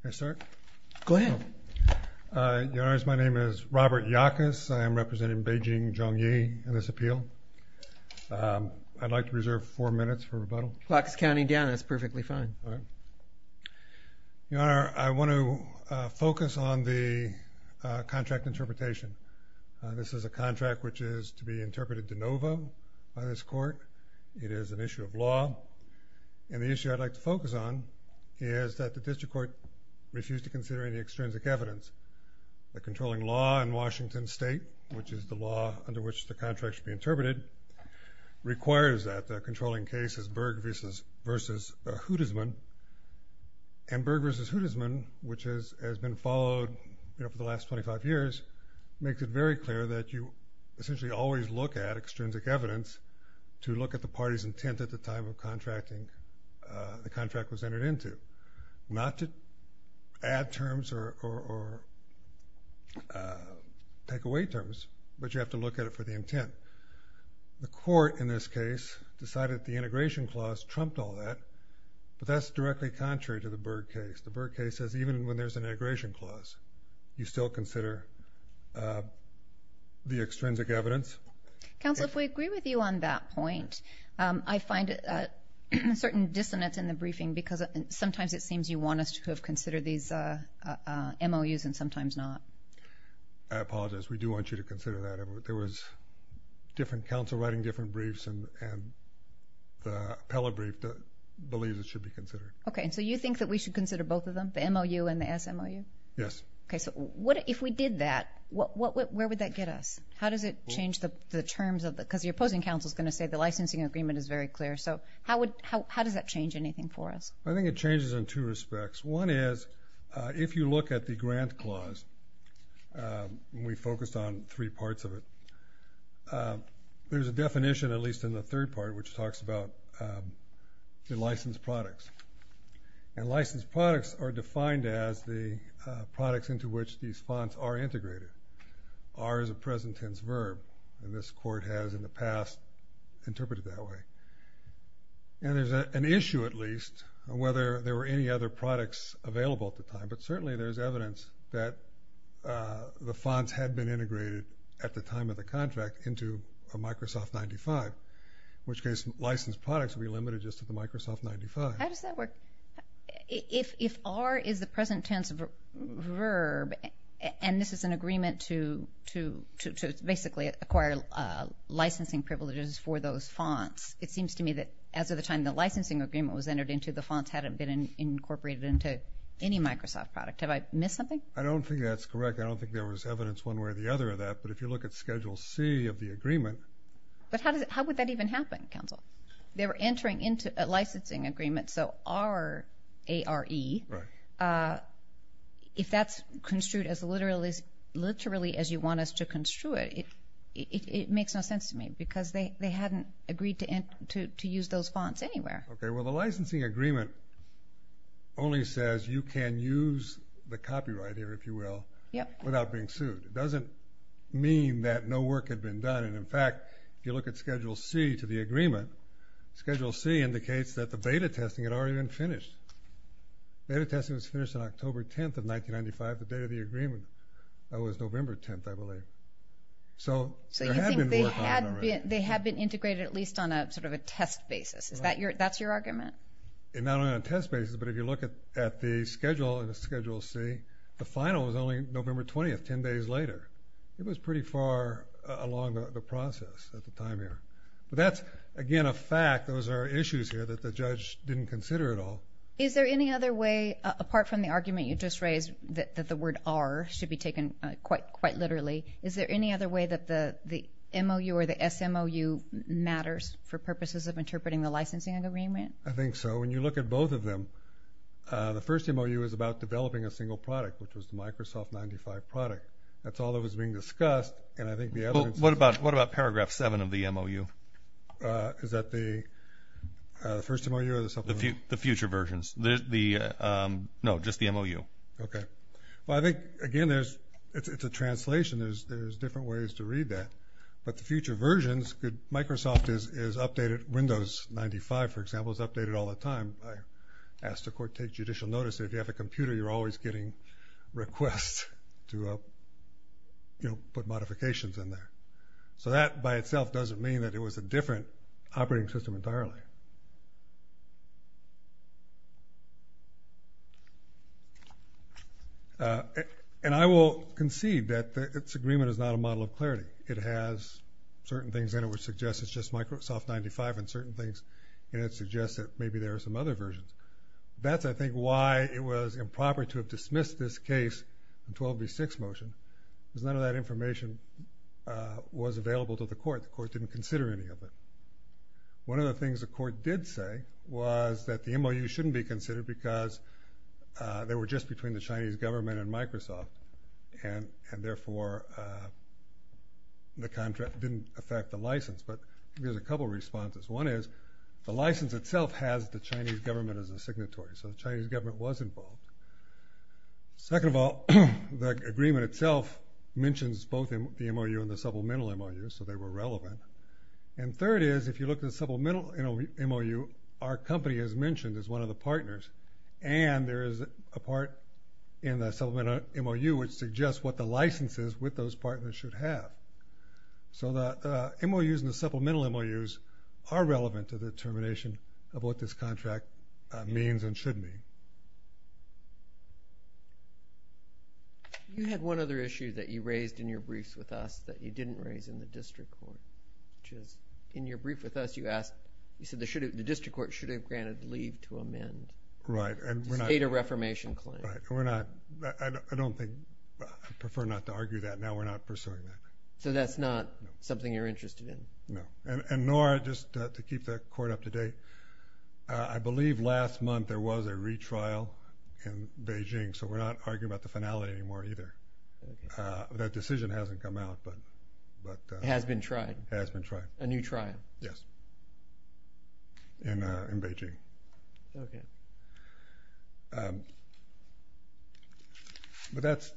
Can I start? Go ahead. Your Honor, my name is Robert Yackes. I am representing Beijing Zhongyi in this appeal. I'd like to reserve four minutes for rebuttal. Yackes County, Indiana is perfectly fine. All right. Your Honor, I want to focus on the contract interpretation. This is a contract which is to be interpreted de novo by this court. It is an issue of law. And the issue I'd like to focus on is that the district court refused to consider any extrinsic evidence. The controlling law in Washington State, which is the law under which the contract should be interpreted, requires that the controlling case is Berg v. Hudesman. And Berg v. Hudesman, which has been followed for the last 25 years, makes it very clear that you essentially always look at extrinsic evidence to look at the party's intent at the time of contracting the contract was entered into, not to add terms or take away terms, but you have to look at it for the intent. The court in this case decided the integration clause trumped all that, but that's directly contrary to the Berg case. The Berg case says even when there's an integration clause, you still consider the extrinsic evidence. Counsel, if we agree with you on that point, I find a certain dissonance in the briefing because sometimes it seems you want us to have considered these MOUs and sometimes not. I apologize. We do want you to consider that. There was different counsel writing different briefs, and the appellate brief believes it should be considered. Okay. And so you think that we should consider both of them, the MOU and the SMOU? Yes. Okay. So if we did that, where would that get us? How does it change the terms? Because the opposing counsel is going to say the licensing agreement is very clear. So how does that change anything for us? I think it changes in two respects. One is if you look at the grant clause, and we focused on three parts of it, there's a definition, at least in the third part, which talks about the licensed products. And licensed products are defined as the products into which these funds are integrated. R is a present tense verb, and this court has, in the past, interpreted it that way. And there's an issue, at least, on whether there were any other products available at the time, but certainly there's evidence that the funds had been integrated at the time of the contract into a Microsoft 95, in which case licensed products would be limited just to the Microsoft 95. How does that work? If R is the present tense verb, and this is an agreement to basically acquire licensing privileges for those funds, it seems to me that as of the time the licensing agreement was entered into, the funds hadn't been incorporated into any Microsoft product. Have I missed something? I don't think that's correct. I don't think there was evidence one way or the other of that, but if you look at Schedule C of the agreement. But how would that even happen, counsel? They were entering into a licensing agreement, so R-A-R-E. Right. If that's construed as literally as you want us to construe it, it makes no sense to me because they hadn't agreed to use those funds anywhere. Okay. Well, the licensing agreement only says you can use the copyright here, if you will, without being sued. It doesn't mean that no work had been done. In fact, if you look at Schedule C to the agreement, Schedule C indicates that the beta testing had already been finished. Beta testing was finished on October 10th of 1995, the day of the agreement. That was November 10th, I believe. So there had been work on it already. So you think they had been integrated at least on sort of a test basis. That's your argument? Not on a test basis, but if you look at the Schedule C, the final was only November 20th, 10 days later. It was pretty far along the process at the time here. But that's, again, a fact. Those are issues here that the judge didn't consider at all. Is there any other way, apart from the argument you just raised that the word R should be taken quite literally, is there any other way that the MOU or the SMOU matters for purposes of interpreting the licensing agreement? I think so. When you look at both of them, the first MOU is about developing a single product, which was the Microsoft 95 product. That's all that was being discussed. What about Paragraph 7 of the MOU? Is that the first MOU or the second one? The future versions. No, just the MOU. Okay. Well, I think, again, it's a translation. There's different ways to read that. But the future versions, Microsoft is updated. Windows 95, for example, is updated all the time. I asked the court to take judicial notice. If you have a computer, you're always getting requests to put modifications in there. So that, by itself, doesn't mean that it was a different operating system entirely. And I will concede that this agreement is not a model of clarity. It has certain things in it which suggest it's just Microsoft 95 and certain things in it suggest that maybe there are some other versions. That's, I think, why it was improper to have dismissed this case in 12B6 motion, because none of that information was available to the court. The court didn't consider any of it. One of the things the court did say was that the MOU shouldn't be considered because they were just between the Chinese government and Microsoft, and therefore the contract didn't affect the license. But there's a couple of responses. One is the license itself has the Chinese government as a signatory, so the Chinese government was involved. Second of all, the agreement itself mentions both the MOU and the supplemental MOU, so they were relevant. And third is if you look at the supplemental MOU, our company is mentioned as one of the partners, and there is a part in the supplemental MOU which suggests what the licenses with those partners should have. So the MOUs and the supplemental MOUs are relevant to the determination of what this contract means and should mean. You had one other issue that you raised in your briefs with us that you didn't raise in the district court, which is in your brief with us you asked, you said the district court should have granted leave to amend. Right. To state a reformation claim. Right. I prefer not to argue that. Now we're not pursuing that. So that's not something you're interested in? No. And Nora, just to keep the court up to date, I believe last month there was a retrial in Beijing, so we're not arguing about the finality anymore either. That decision hasn't come out. It has been tried? It has been tried. A new trial? Yes. In Beijing. Okay. But that's.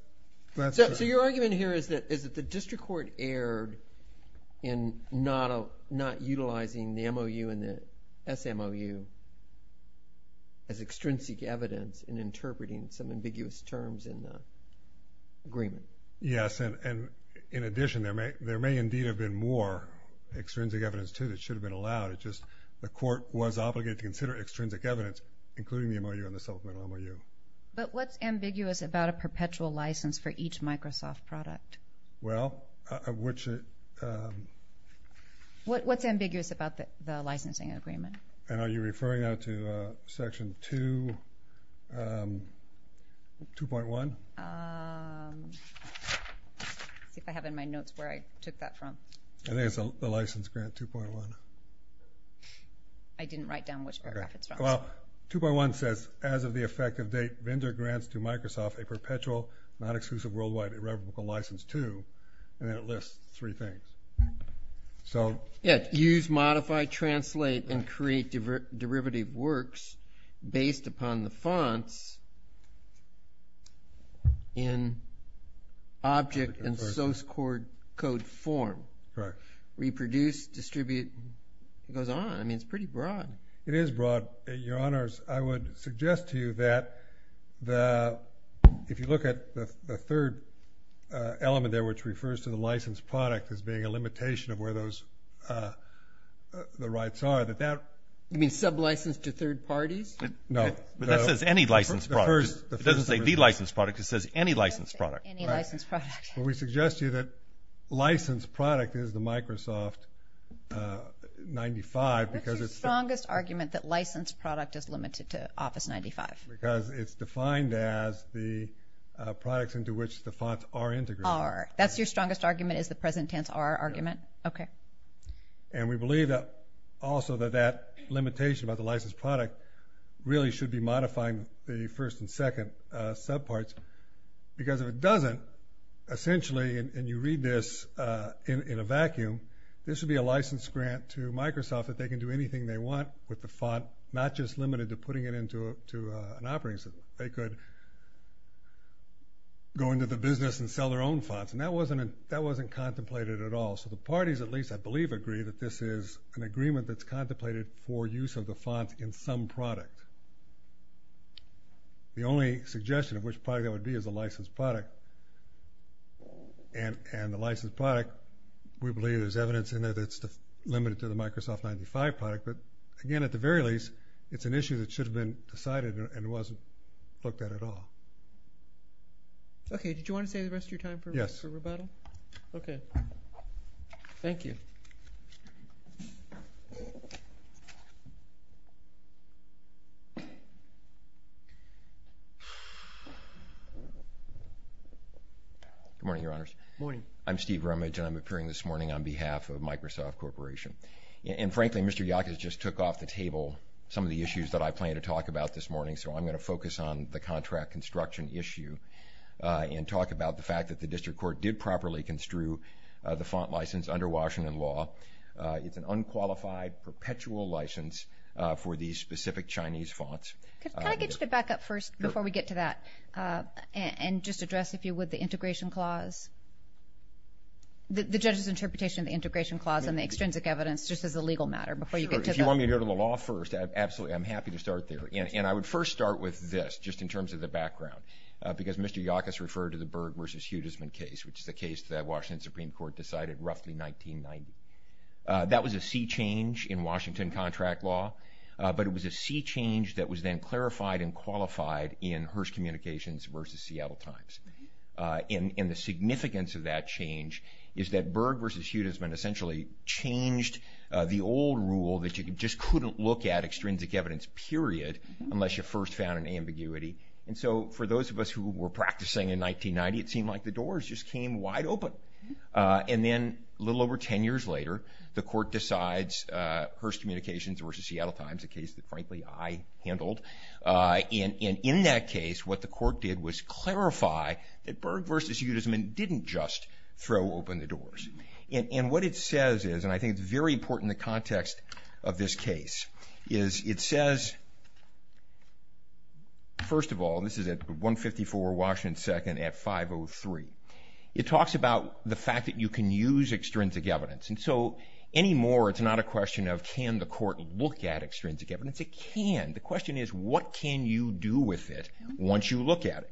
So your argument here is that the district court erred in not utilizing the MOU and the SMOU as extrinsic evidence in interpreting some ambiguous terms in the agreement. Yes. And in addition, there may indeed have been more extrinsic evidence too that should have been allowed. It's just the court was obligated to consider extrinsic evidence, including the MOU and the SMOU. But what's ambiguous about a perpetual license for each Microsoft product? Well, which. What's ambiguous about the licensing agreement? And are you referring now to Section 2.1? Let's see if I have in my notes where I took that from. I think it's the license grant 2.1. I didn't write down which paragraph it's from. Okay. Well, 2.1 says, as of the effective date vendor grants to Microsoft a perpetual, non-exclusive worldwide irrevocable license to, and then it lists three things. So. Yeah, use, modify, translate, and create derivative works based upon the fonts in object and source code form. Correct. Reproduce, distribute. It goes on. I mean, it's pretty broad. It is broad. Your Honors, I would suggest to you that if you look at the third element there, which refers to the licensed product as being a limitation of where those rights are. You mean sub-licensed to third parties? No. But that says any licensed product. It doesn't say the licensed product. It says any licensed product. Any licensed product. Well, we suggest to you that licensed product is the Microsoft 95 because it's. What's your strongest argument that licensed product is limited to Office 95? Because it's defined as the products into which the fonts are integrated. Are. That's your strongest argument is the present tense are argument? Okay. And we believe that also that that limitation about the licensed product really should be modifying the first and second sub-parts because if it essentially, and you read this in a vacuum, this would be a licensed grant to Microsoft that they can do anything they want with the font, not just limited to putting it into an operating system. They could go into the business and sell their own fonts. And that wasn't contemplated at all. So the parties, at least I believe, agree that this is an agreement that's contemplated for use of the font in some product. The only suggestion of which part that would be is a licensed product. And the licensed product, we believe there's evidence in there that's limited to the Microsoft 95 product. But again, at the very least, it's an issue that should have been decided and it wasn't looked at at all. Okay. Did you want to say the rest of your time for rebuttal? Yes. Okay. Thank you. Good morning, Your Honors. Good morning. I'm Steve Rumage and I'm appearing this morning on behalf of Microsoft Corporation. And frankly, Mr. Yackes just took off the table some of the issues that I plan to talk about this morning. So I'm going to focus on the contract construction issue and talk about the fact that the district court did properly construe the font license under Washington law. It's an unqualified perpetual license for these specific Chinese fonts. Can I get you to back up first before we get to that and just address, if you would, the integration clause, the judge's interpretation of the integration clause and the extrinsic evidence, just as a legal matter before you get to that. Sure. If you want me to go to the law first, absolutely. I'm happy to start there. And I would first start with this, just in terms of the background, because Mr. Yackes referred to the Berg versus Hudesman case, which is the case that Washington Supreme Court decided roughly 1990. That was a sea change in Washington contract law, but it was a sea change that was then clarified and qualified in Hearst Communications versus Seattle Times. And the significance of that change is that Berg versus Hudesman essentially changed the old rule that you just couldn't look at extrinsic evidence, period, unless you first found an ambiguity. And so for those of us who were practicing in 1990, it seemed like the doors just came wide open. And then a little over 10 years later, the court decides Hearst Communications versus Seattle Times, a case that frankly I handled. And in that case, what the court did was clarify that Berg versus Hudesman didn't just throw open the doors. And what it says is, and I think it's very important in the context of this case, is it says, first of all, this is at 154 Washington second at 503. It talks about the fact that you can use extrinsic evidence. And so any more, it's not a question of can the court look at extrinsic evidence. It can. The question is, what can you do with it once you look at it?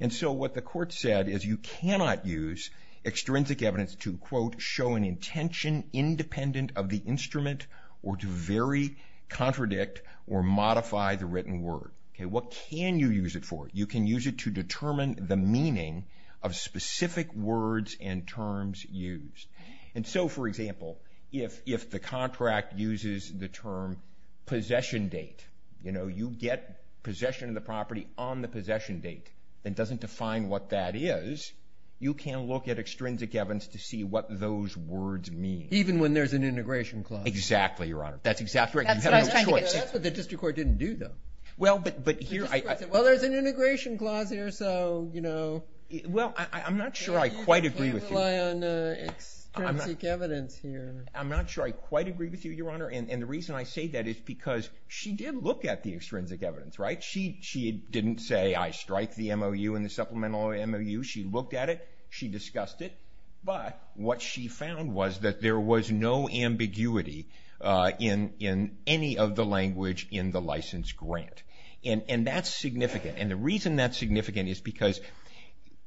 And so what the court said is you cannot use extrinsic evidence to, quote, show an intention independent of the instrument or to very contradict or modify the written word. Okay, what can you use it for? You can use it to determine the meaning of specific words and terms used. And so, for example, if, if the contract uses the term possession date, you know, you get possession of the property on the possession date. It doesn't define what that is. You can look at extrinsic evidence to see what those words mean. Even when there's an integration clause. Exactly. Your honor. That's exactly right. That's what the district court didn't do though. Well, but, but here I, well, there's an integration clause here. So, you know, well, I'm not sure I quite agree with you. You can't rely on extrinsic evidence here. I'm not sure I quite agree with you, your honor. And the reason I say that is because she did look at the extrinsic evidence, right? She, she didn't say I strike the MOU and the supplemental MOU. She looked at it. She discussed it. But what she found was that there was no ambiguity in, in any of the language in the license grant. And, and that's significant. And the reason that's significant is because,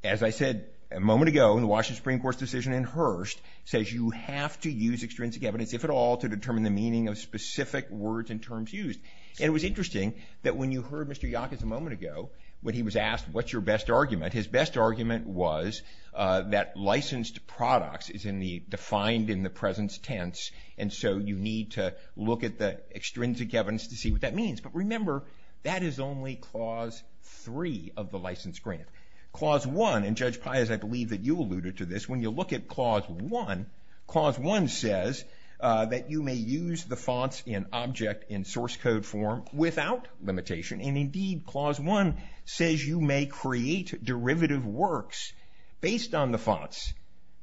as I said, a moment ago in the Washington Supreme Court's decision in Hearst says you have to use extrinsic evidence, if at all, to determine the meaning of specific words and terms used. And it was interesting that when you heard Mr. Yackes a moment ago, when he was asked, what's your best argument, his best argument was that licensed products is in the defined in the presence tense. And so you need to look at the extrinsic evidence to see what that means. But remember, that is only clause three of the license grant. Clause one, and Judge Pius, I believe that you alluded to this. When you look at clause one, clause one says that you may use the fonts in object in source code form without limitation. And indeed clause one says you may create derivative works based on the fonts,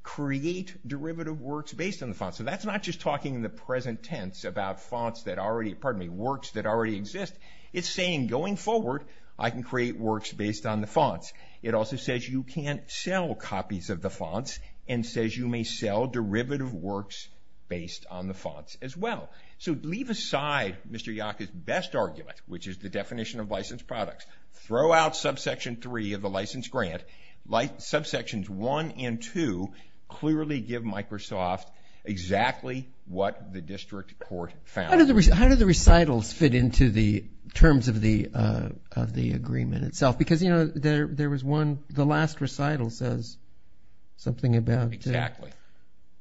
create derivative works based on the fonts. So that's not just talking in the present tense about fonts that already pardon me, works that already exist. It's saying going forward, I can create works based on the fonts. It also says you can sell copies of the fonts and says you may sell derivative works based on the fonts as well. So leave aside Mr. Yackes best argument, which is the definition of licensed products, throw out subsection three of the license grant, like subsections one and two, clearly give Microsoft exactly what the district court found. How do the recitals fit into the terms of the agreement itself? Because there was one, the last recital says something about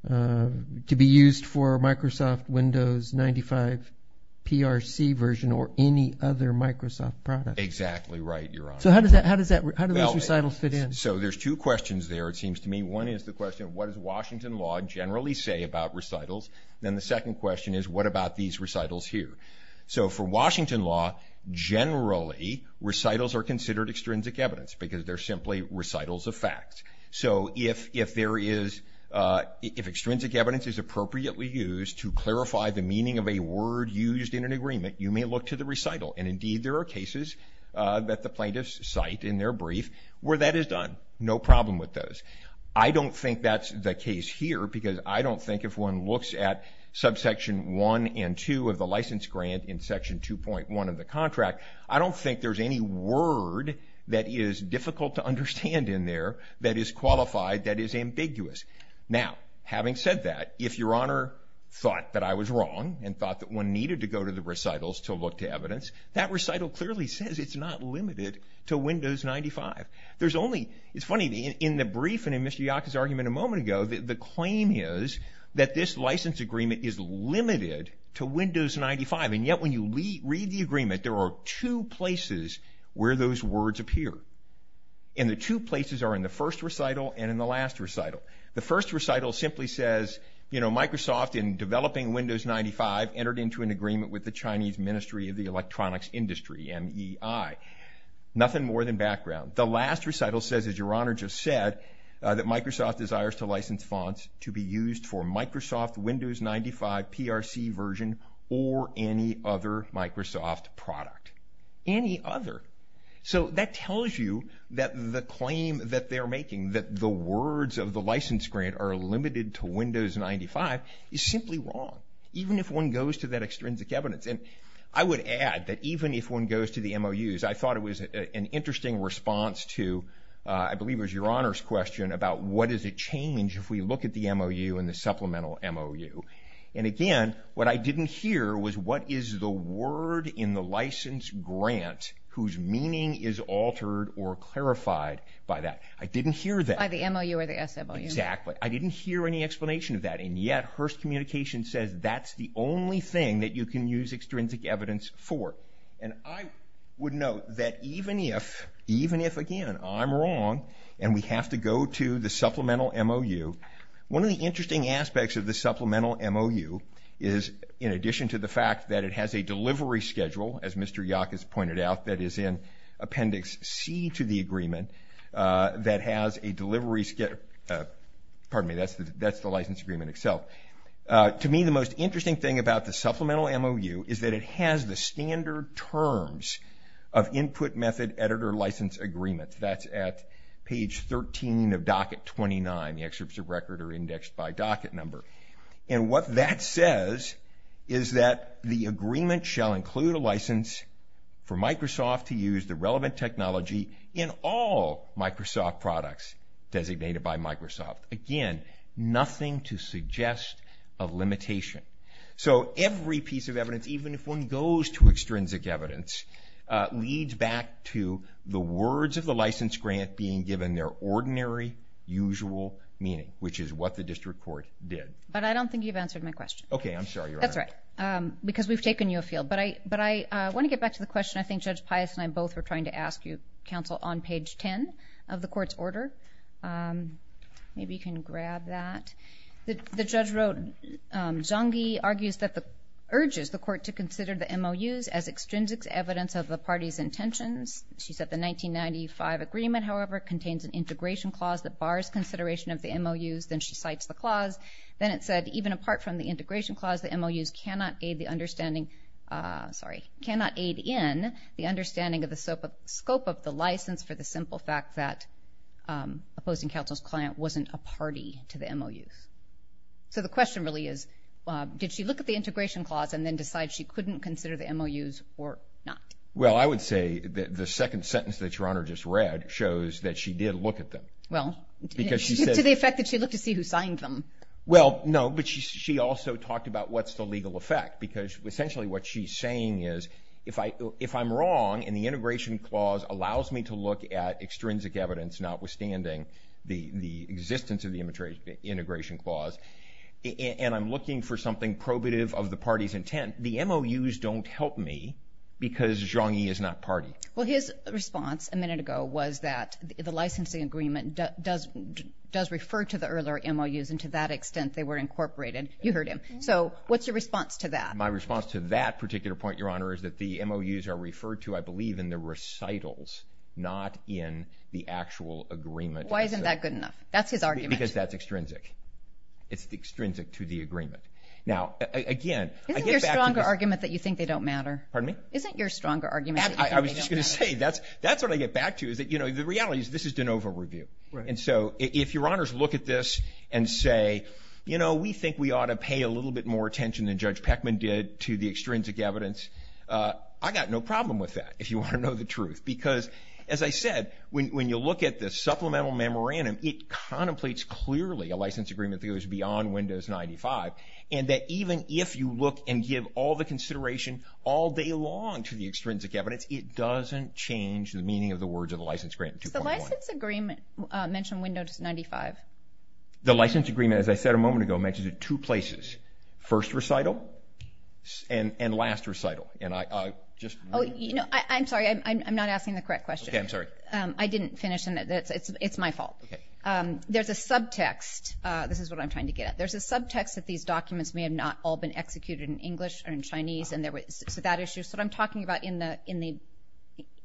to be used for Microsoft Windows 95 PRC version or any other Microsoft product. Exactly right, Your Honor. So how do those recitals fit in? So there's two questions there it seems to me. One is the question, what does Washington law generally say about recitals? Then the second question is, what about these recitals here? So for Washington law, generally recitals are considered extrinsic evidence because they're simply recitals of facts. So if, if there is, if extrinsic evidence is appropriately used to clarify the meaning of a word used in an agreement, you may look to the recital. And indeed there are cases that the plaintiffs cite in their brief where that is done. No problem with those. I don't think that's the case here because I don't think if one looks at subsection one and two of the license grant in section 2.1 of the contract, I don't think there's any word that is difficult to understand in there that is qualified, that is ambiguous. Now, having said that, if Your Honor thought that I was wrong and thought that one needed to go to the recitals to look to evidence, that recital clearly says it's not limited to Windows 95. There's only, it's funny, in the brief and in Mr. Yaka's argument a moment ago, the claim is that this license agreement is limited to Windows 95. And yet when you read the agreement, there are two places where those words appear. And the two places are in the first recital and in the last recital. The first recital simply says, you know, Microsoft in developing Windows 95 entered into an agreement with the Chinese Ministry of the Electronics Industry, M-E-I. Nothing more than background. The last recital says, as Your Honor just said, that Microsoft desires to license fonts to be used for Microsoft Windows 95 PRC version or any other Microsoft product. Any other. So that tells you that the claim that they're making, that the words of the license grant are limited to Windows 95, is simply wrong. Even if one goes to that extrinsic evidence. And I would add that even if one goes to the MOUs, I thought it was an interesting response to, I believe it was Your Honor's question about what does it change if we look at the MOU and the supplemental MOU. And again, what I didn't hear was what is the word in the license grant whose meaning is altered or clarified by that. I didn't hear that. By the MOU or the SMOU. Exactly. I didn't hear any explanation of that. And yet Hearst Communications says that's the only thing that you can use extrinsic evidence for. And I would note that even if, even if, again, I'm wrong, and we have to go to the supplemental MOU, one of the interesting aspects of the supplemental MOU is, in addition to the fact that it has a delivery schedule, as Mr. Yock has pointed out, that is in Appendix C to the agreement, that has a delivery schedule, pardon me, that's the license agreement itself. To me, the most interesting thing about the supplemental MOU is that it has the standard terms of input method editor license agreements. That's at page 13 of docket 29. The excerpts of record are indexed by docket number. And what that says is that the agreement shall include a license for Microsoft to use the relevant technology in all Microsoft products designated by Microsoft. Again, nothing to suggest a limitation. So every piece of evidence, even if one goes to extrinsic evidence, leads back to the words of the license grant being given their ordinary usual meaning, which is what the district court did. But I don't think you've answered my question. Okay, I'm sorry, Your Honor. That's all right, because we've taken you afield. But I want to get back to the question I think Judge Pius and I both were trying to ask you, counsel, on page 10 of the court's order. Maybe you can grab that. The judge wrote, Zhangi argues that the urges the court to consider the MOUs as extrinsic evidence of the party's intentions. She said the 1995 agreement, however, contains an integration clause that bars consideration of the MOUs. Then she cites the clause. Then it said, even apart from the integration clause, the MOUs cannot aid the understanding, sorry, cannot aid in the understanding of the scope of the license for the simple fact that opposing counsel's client wasn't a party to the MOUs. So the question really is, did she look at the integration clause and then decide she couldn't consider the MOUs or not? Well, I would say that the second sentence that Your Honor just read shows that she did look at them. Well, to the effect that she looked to see who signed them. Well, no, but she also talked about what's the legal effect, because essentially what she's saying is, if I'm wrong, and the integration clause allows me to look at extrinsic evidence, notwithstanding the existence of the integration clause, and I'm looking for something probative of the party's intent, the MOUs don't help me because Zhongyi is not party. Well, his response a minute ago was that the licensing agreement does refer to the earlier MOUs, and to that extent they were incorporated. You heard him. So what's your response to that? My response to that particular point, Your Honor, is that the MOUs are referred to, I believe, in the recitals, not in the actual agreement. Why isn't that good enough? That's his argument. Because that's extrinsic. It's extrinsic to the agreement. Now, again, I get back to this. Isn't your stronger argument that you think they don't matter? Pardon me? Isn't your stronger argument that you think they don't matter? I was just going to say, that's what I get back to, is that the reality is this is de novo review. And so if Your Honors look at this and say, you know, we think we ought to pay a little bit more attention than Judge Peckman did to the extrinsic evidence, I've got no problem with that, if you want to know the truth. Because, as I said, when you look at this supplemental memorandum, it contemplates clearly a license agreement that goes beyond Windows 95, and that even if you look and give all the consideration all day long to the extrinsic evidence, it doesn't change the meaning of the words of the license agreement 2.1. Does the license agreement mention Windows 95? The license agreement, as I said a moment ago, mentions it two places. First recital and last recital. Oh, you know, I'm sorry. I'm not asking the correct question. Okay, I'm sorry. I didn't finish, and it's my fault. Okay. There's a subtext. This is what I'm trying to get at. There's a subtext that these documents may have not all been executed in English or in Chinese, so that issue. So what I'm talking about,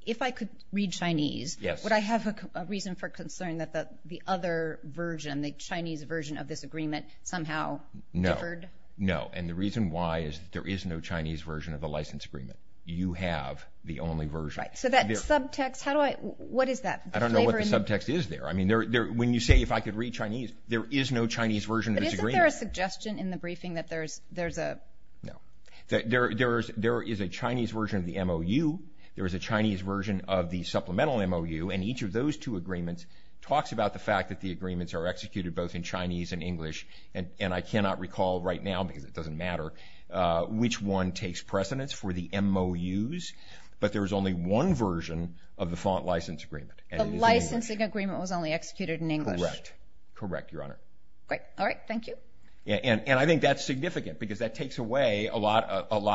if I could read Chinese, would I have a reason for concern that the other version, the Chinese version of this agreement, somehow differed? No. And the reason why is there is no Chinese version of the license agreement. You have the only version. So that subtext, what is that? I don't know what the subtext is there. I mean, when you say, if I could read Chinese, there is no Chinese version of this agreement. But isn't there a suggestion in the briefing that there's a? No. There is a Chinese version of the MOU. There is a Chinese version of the supplemental MOU, and each of those two agreements talks about the fact that the agreements are executed both in Chinese and English. And I cannot recall right now, because it doesn't matter, which one takes precedence for the MOUs, but there's only one version of the font license agreement. The licensing agreement was only executed in English. Correct. Correct, Your Honor. Great. All right. Thank you. And I think that's significant because that takes away a lot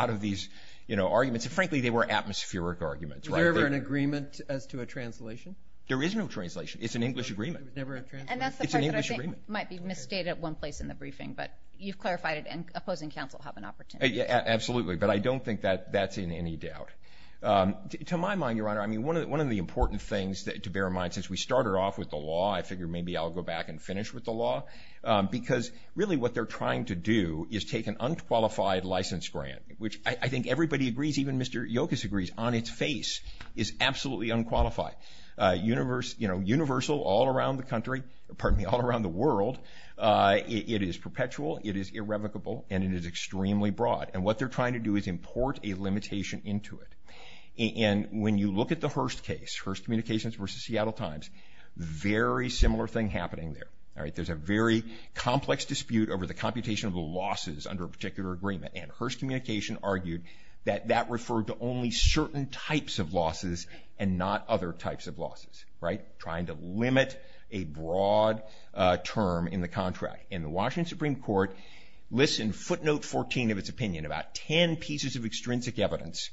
of these arguments. And frankly, they were atmospheric arguments. Was there ever an agreement as to a translation? There is no translation. It's an English agreement. And that's the part that I think might be misstated at one place in the briefing. But you've clarified it, and opposing counsel have an opportunity. Yeah, absolutely. But I don't think that's in any doubt. To my mind, Your Honor, I mean, one of the important things to bear in mind, since we started off with the law, I figure maybe I'll go back and finish with the law, because really what they're trying to do is take an unqualified license grant, which I think everybody agrees, even Mr. Yokas agrees, on its face is absolutely unqualified. Universal all around the country. Pardon me, all around the world. It is perpetual. It is irrevocable. And it is extremely broad. And what they're trying to do is import a limitation into it. And when you look at the Hearst case, Hearst Communications versus Seattle Times, very similar thing happening there. There's a very complex dispute over the computation of the losses under a particular agreement. And Hearst Communications argued that that referred to only certain types of losses and not other types of losses, right? Trying to limit a broad term in the contract. And the Washington Supreme Court lists in footnote 14 of its opinion about ten pieces of extrinsic evidence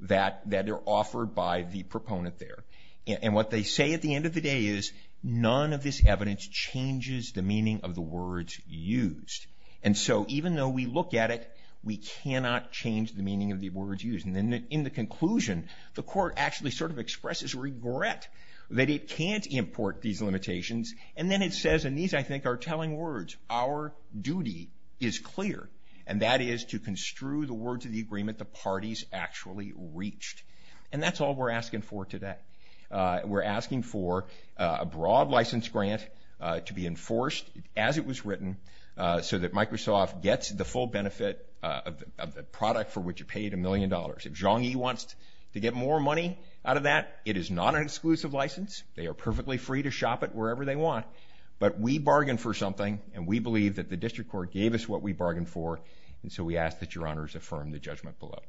that are offered by the proponent there. And what they say at the end of the day is, none of this evidence changes the meaning of the words used. And so even though we look at it, we cannot change the meaning of the words used. And in the conclusion, the court actually sort of expresses regret that it can't import these limitations. And then it says, and these I think are telling words, our duty is clear, and that is to construe the words of the agreement the parties actually reached. And that's all we're asking for today. We're asking for a broad license grant to be enforced as it was written so that Microsoft gets the full benefit of the product for which it paid a million dollars. If Zhongyi wants to get more money out of that, it is not an exclusive license. They are perfectly free to shop it wherever they want. But we bargained for something, and we believe that the district court gave us what we bargained for. And so we ask that Your Honors affirm the judgment below.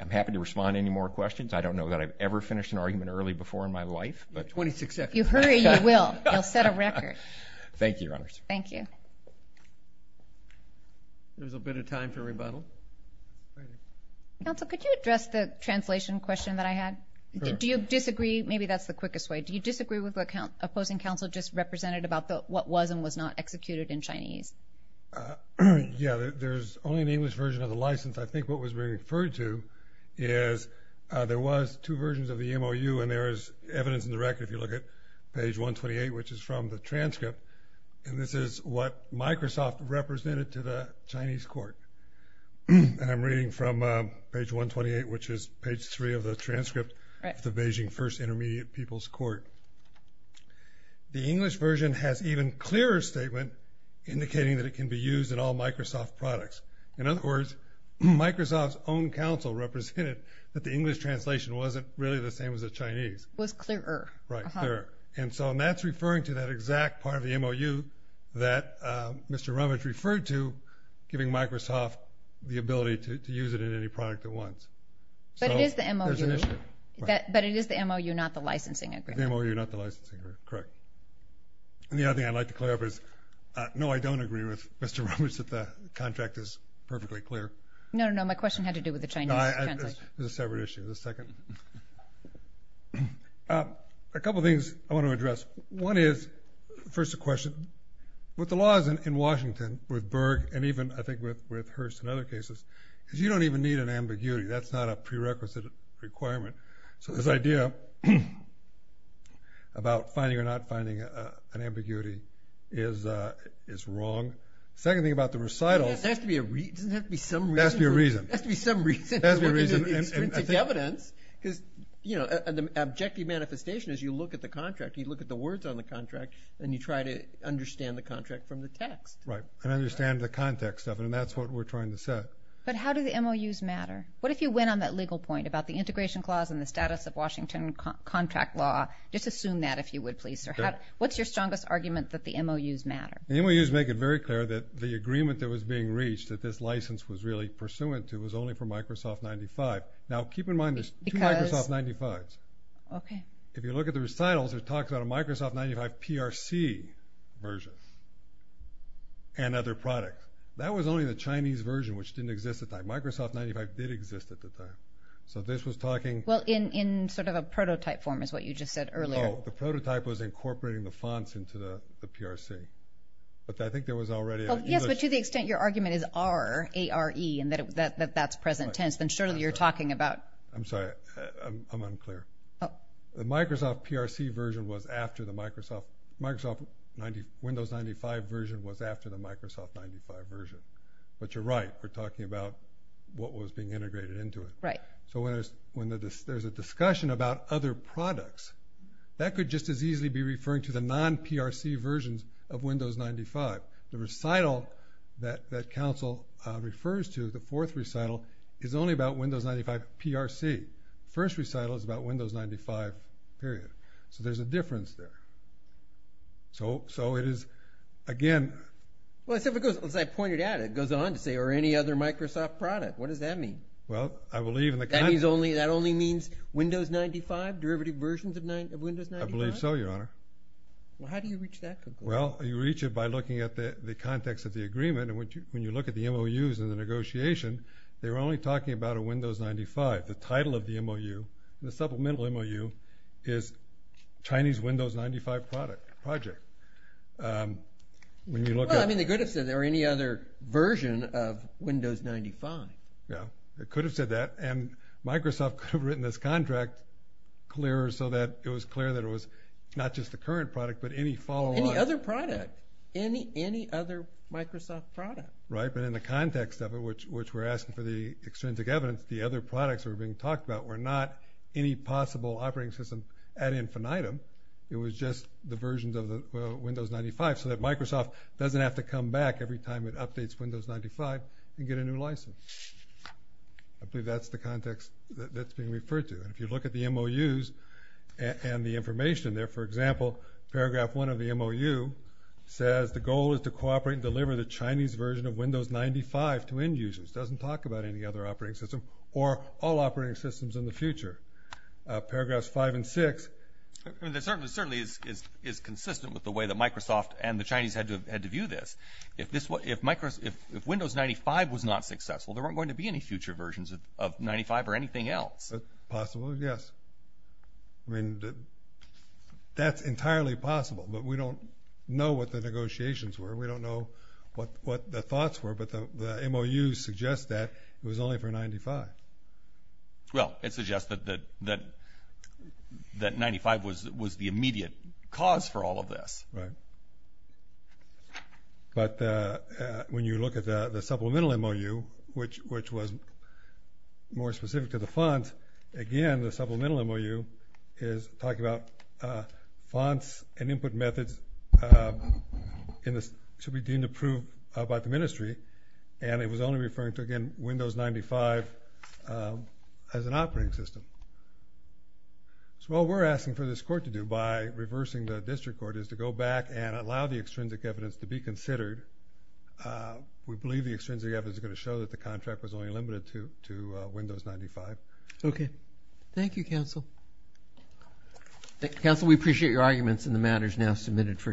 I'm happy to respond to any more questions. I don't know that I've ever finished an argument early before in my life. You'll set a record. Thank you, Your Honors. Thank you. There's a bit of time for rebuttal. Counsel, could you address the translation question that I had? Do you disagree? Maybe that's the quickest way. Do you disagree with what opposing counsel just represented about what was and was not executed in Chinese? Yeah, there's only an English version of the license. I think what was referred to is there was two versions of the MOU, and there is evidence in the record if you look at page 128, which is from the transcript. And this is what Microsoft represented to the Chinese court. And I'm reading from page 128, which is page 3 of the transcript of the Beijing First Intermediate People's Court. The English version has an even clearer statement indicating that it can be used in all Microsoft products. In other words, Microsoft's own counsel represented that the English translation wasn't really the same as the Chinese. It was clearer. Right, clearer. And so that's referring to that exact part of the MOU that Mr. Romich referred to, giving Microsoft the ability to use it in any product it wants. But it is the MOU. There's an issue. But it is the MOU, not the licensing agreement. The MOU, not the licensing agreement. Correct. And the other thing I'd like to clear up is, no, I don't agree with Mr. Romich that the contract is perfectly clear. No, no, no, my question had to do with the Chinese translation. There's a separate issue. There's a second. A couple of things I want to address. One is, first a question, with the laws in Washington, with Berg, and even I think with Hearst and other cases, is you don't even need an ambiguity. That's not a prerequisite requirement. So this idea about finding or not finding an ambiguity is wrong. The second thing about the recitals. Doesn't it have to be some reason? It has to be a reason. It has to be some reason. It has to be a reason. It's evidence because, you know, an objective manifestation is you look at the contract, you look at the words on the contract, and you try to understand the contract from the text. Right, and understand the context of it. And that's what we're trying to set. But how do the MOUs matter? What if you went on that legal point about the integration clause and the status of Washington contract law? Just assume that, if you would, please. What's your strongest argument that the MOUs matter? The MOUs make it very clear that the agreement that was being reached, that this license was really pursuant to, was only for Microsoft 95. Now, keep in mind, there's two Microsoft 95s. Okay. If you look at the recitals, it talks about a Microsoft 95 PRC version and other products. That was only the Chinese version, which didn't exist at the time. Microsoft 95 did exist at the time. So this was talking. Well, in sort of a prototype form is what you just said earlier. No, the prototype was incorporating the fonts into the PRC. But I think there was already an English. Yes, but to the extent your argument is R-A-R-E and that that's present tense, then surely you're talking about. I'm sorry. I'm unclear. Oh. The Microsoft PRC version was after the Microsoft Windows 95 version was after the Microsoft 95 version. But you're right. We're talking about what was being integrated into it. Right. So when there's a discussion about other products, that could just as easily be referring to the non-PRC versions of Windows 95. The recital that counsel refers to, the fourth recital, is only about Windows 95 PRC. The first recital is about Windows 95 period. So there's a difference there. So it is, again. Well, as I pointed out, it goes on to say or any other Microsoft product. What does that mean? Well, I believe in the. That only means Windows 95, derivative versions of Windows 95? I believe so, Your Honor. Well, how do you reach that conclusion? Well, you reach it by looking at the context of the agreement. And when you look at the MOUs in the negotiation, they were only talking about a Windows 95. The title of the MOU, the supplemental MOU, is Chinese Windows 95 project. Well, I mean, they could have said there were any other version of Windows 95. Yeah. They could have said that. And Microsoft could have written this contract clearer so that it was clear that it was not just the current product but any follow-up. Any other product. Any other Microsoft product. Right, but in the context of it, which we're asking for the extrinsic evidence, the other products that were being talked about were not any possible operating system ad infinitum. It was just the versions of Windows 95 so that Microsoft doesn't have to come back every time it updates Windows 95 and get a new license. I believe that's the context that's being referred to. And if you look at the MOUs and the information there, for example, paragraph one of the MOU says the goal is to cooperate and deliver the Chinese version of Windows 95 to end users. It doesn't talk about any other operating system or all operating systems in the future. Paragraphs five and six. It certainly is consistent with the way that Microsoft and the Chinese had to view this. If Windows 95 was not successful, there weren't going to be any future versions of 95 or anything else. Possible, yes. I mean, that's entirely possible, but we don't know what the negotiations were. We don't know what the thoughts were, but the MOUs suggest that it was only for 95. Well, it suggests that 95 was the immediate cause for all of this. Right. But when you look at the supplemental MOU, which was more specific to the font, again the supplemental MOU is talking about fonts and input methods should be deemed approved by the ministry, and it was only referring to, again, Windows 95 as an operating system. So what we're asking for this court to do by reversing the district court is to go back and allow the extrinsic evidence to be considered. We believe the extrinsic evidence is going to show that the contract was only limited to Windows 95. Okay. Thank you, counsel. Counsel, we appreciate your arguments, and the matter is now submitted for decision.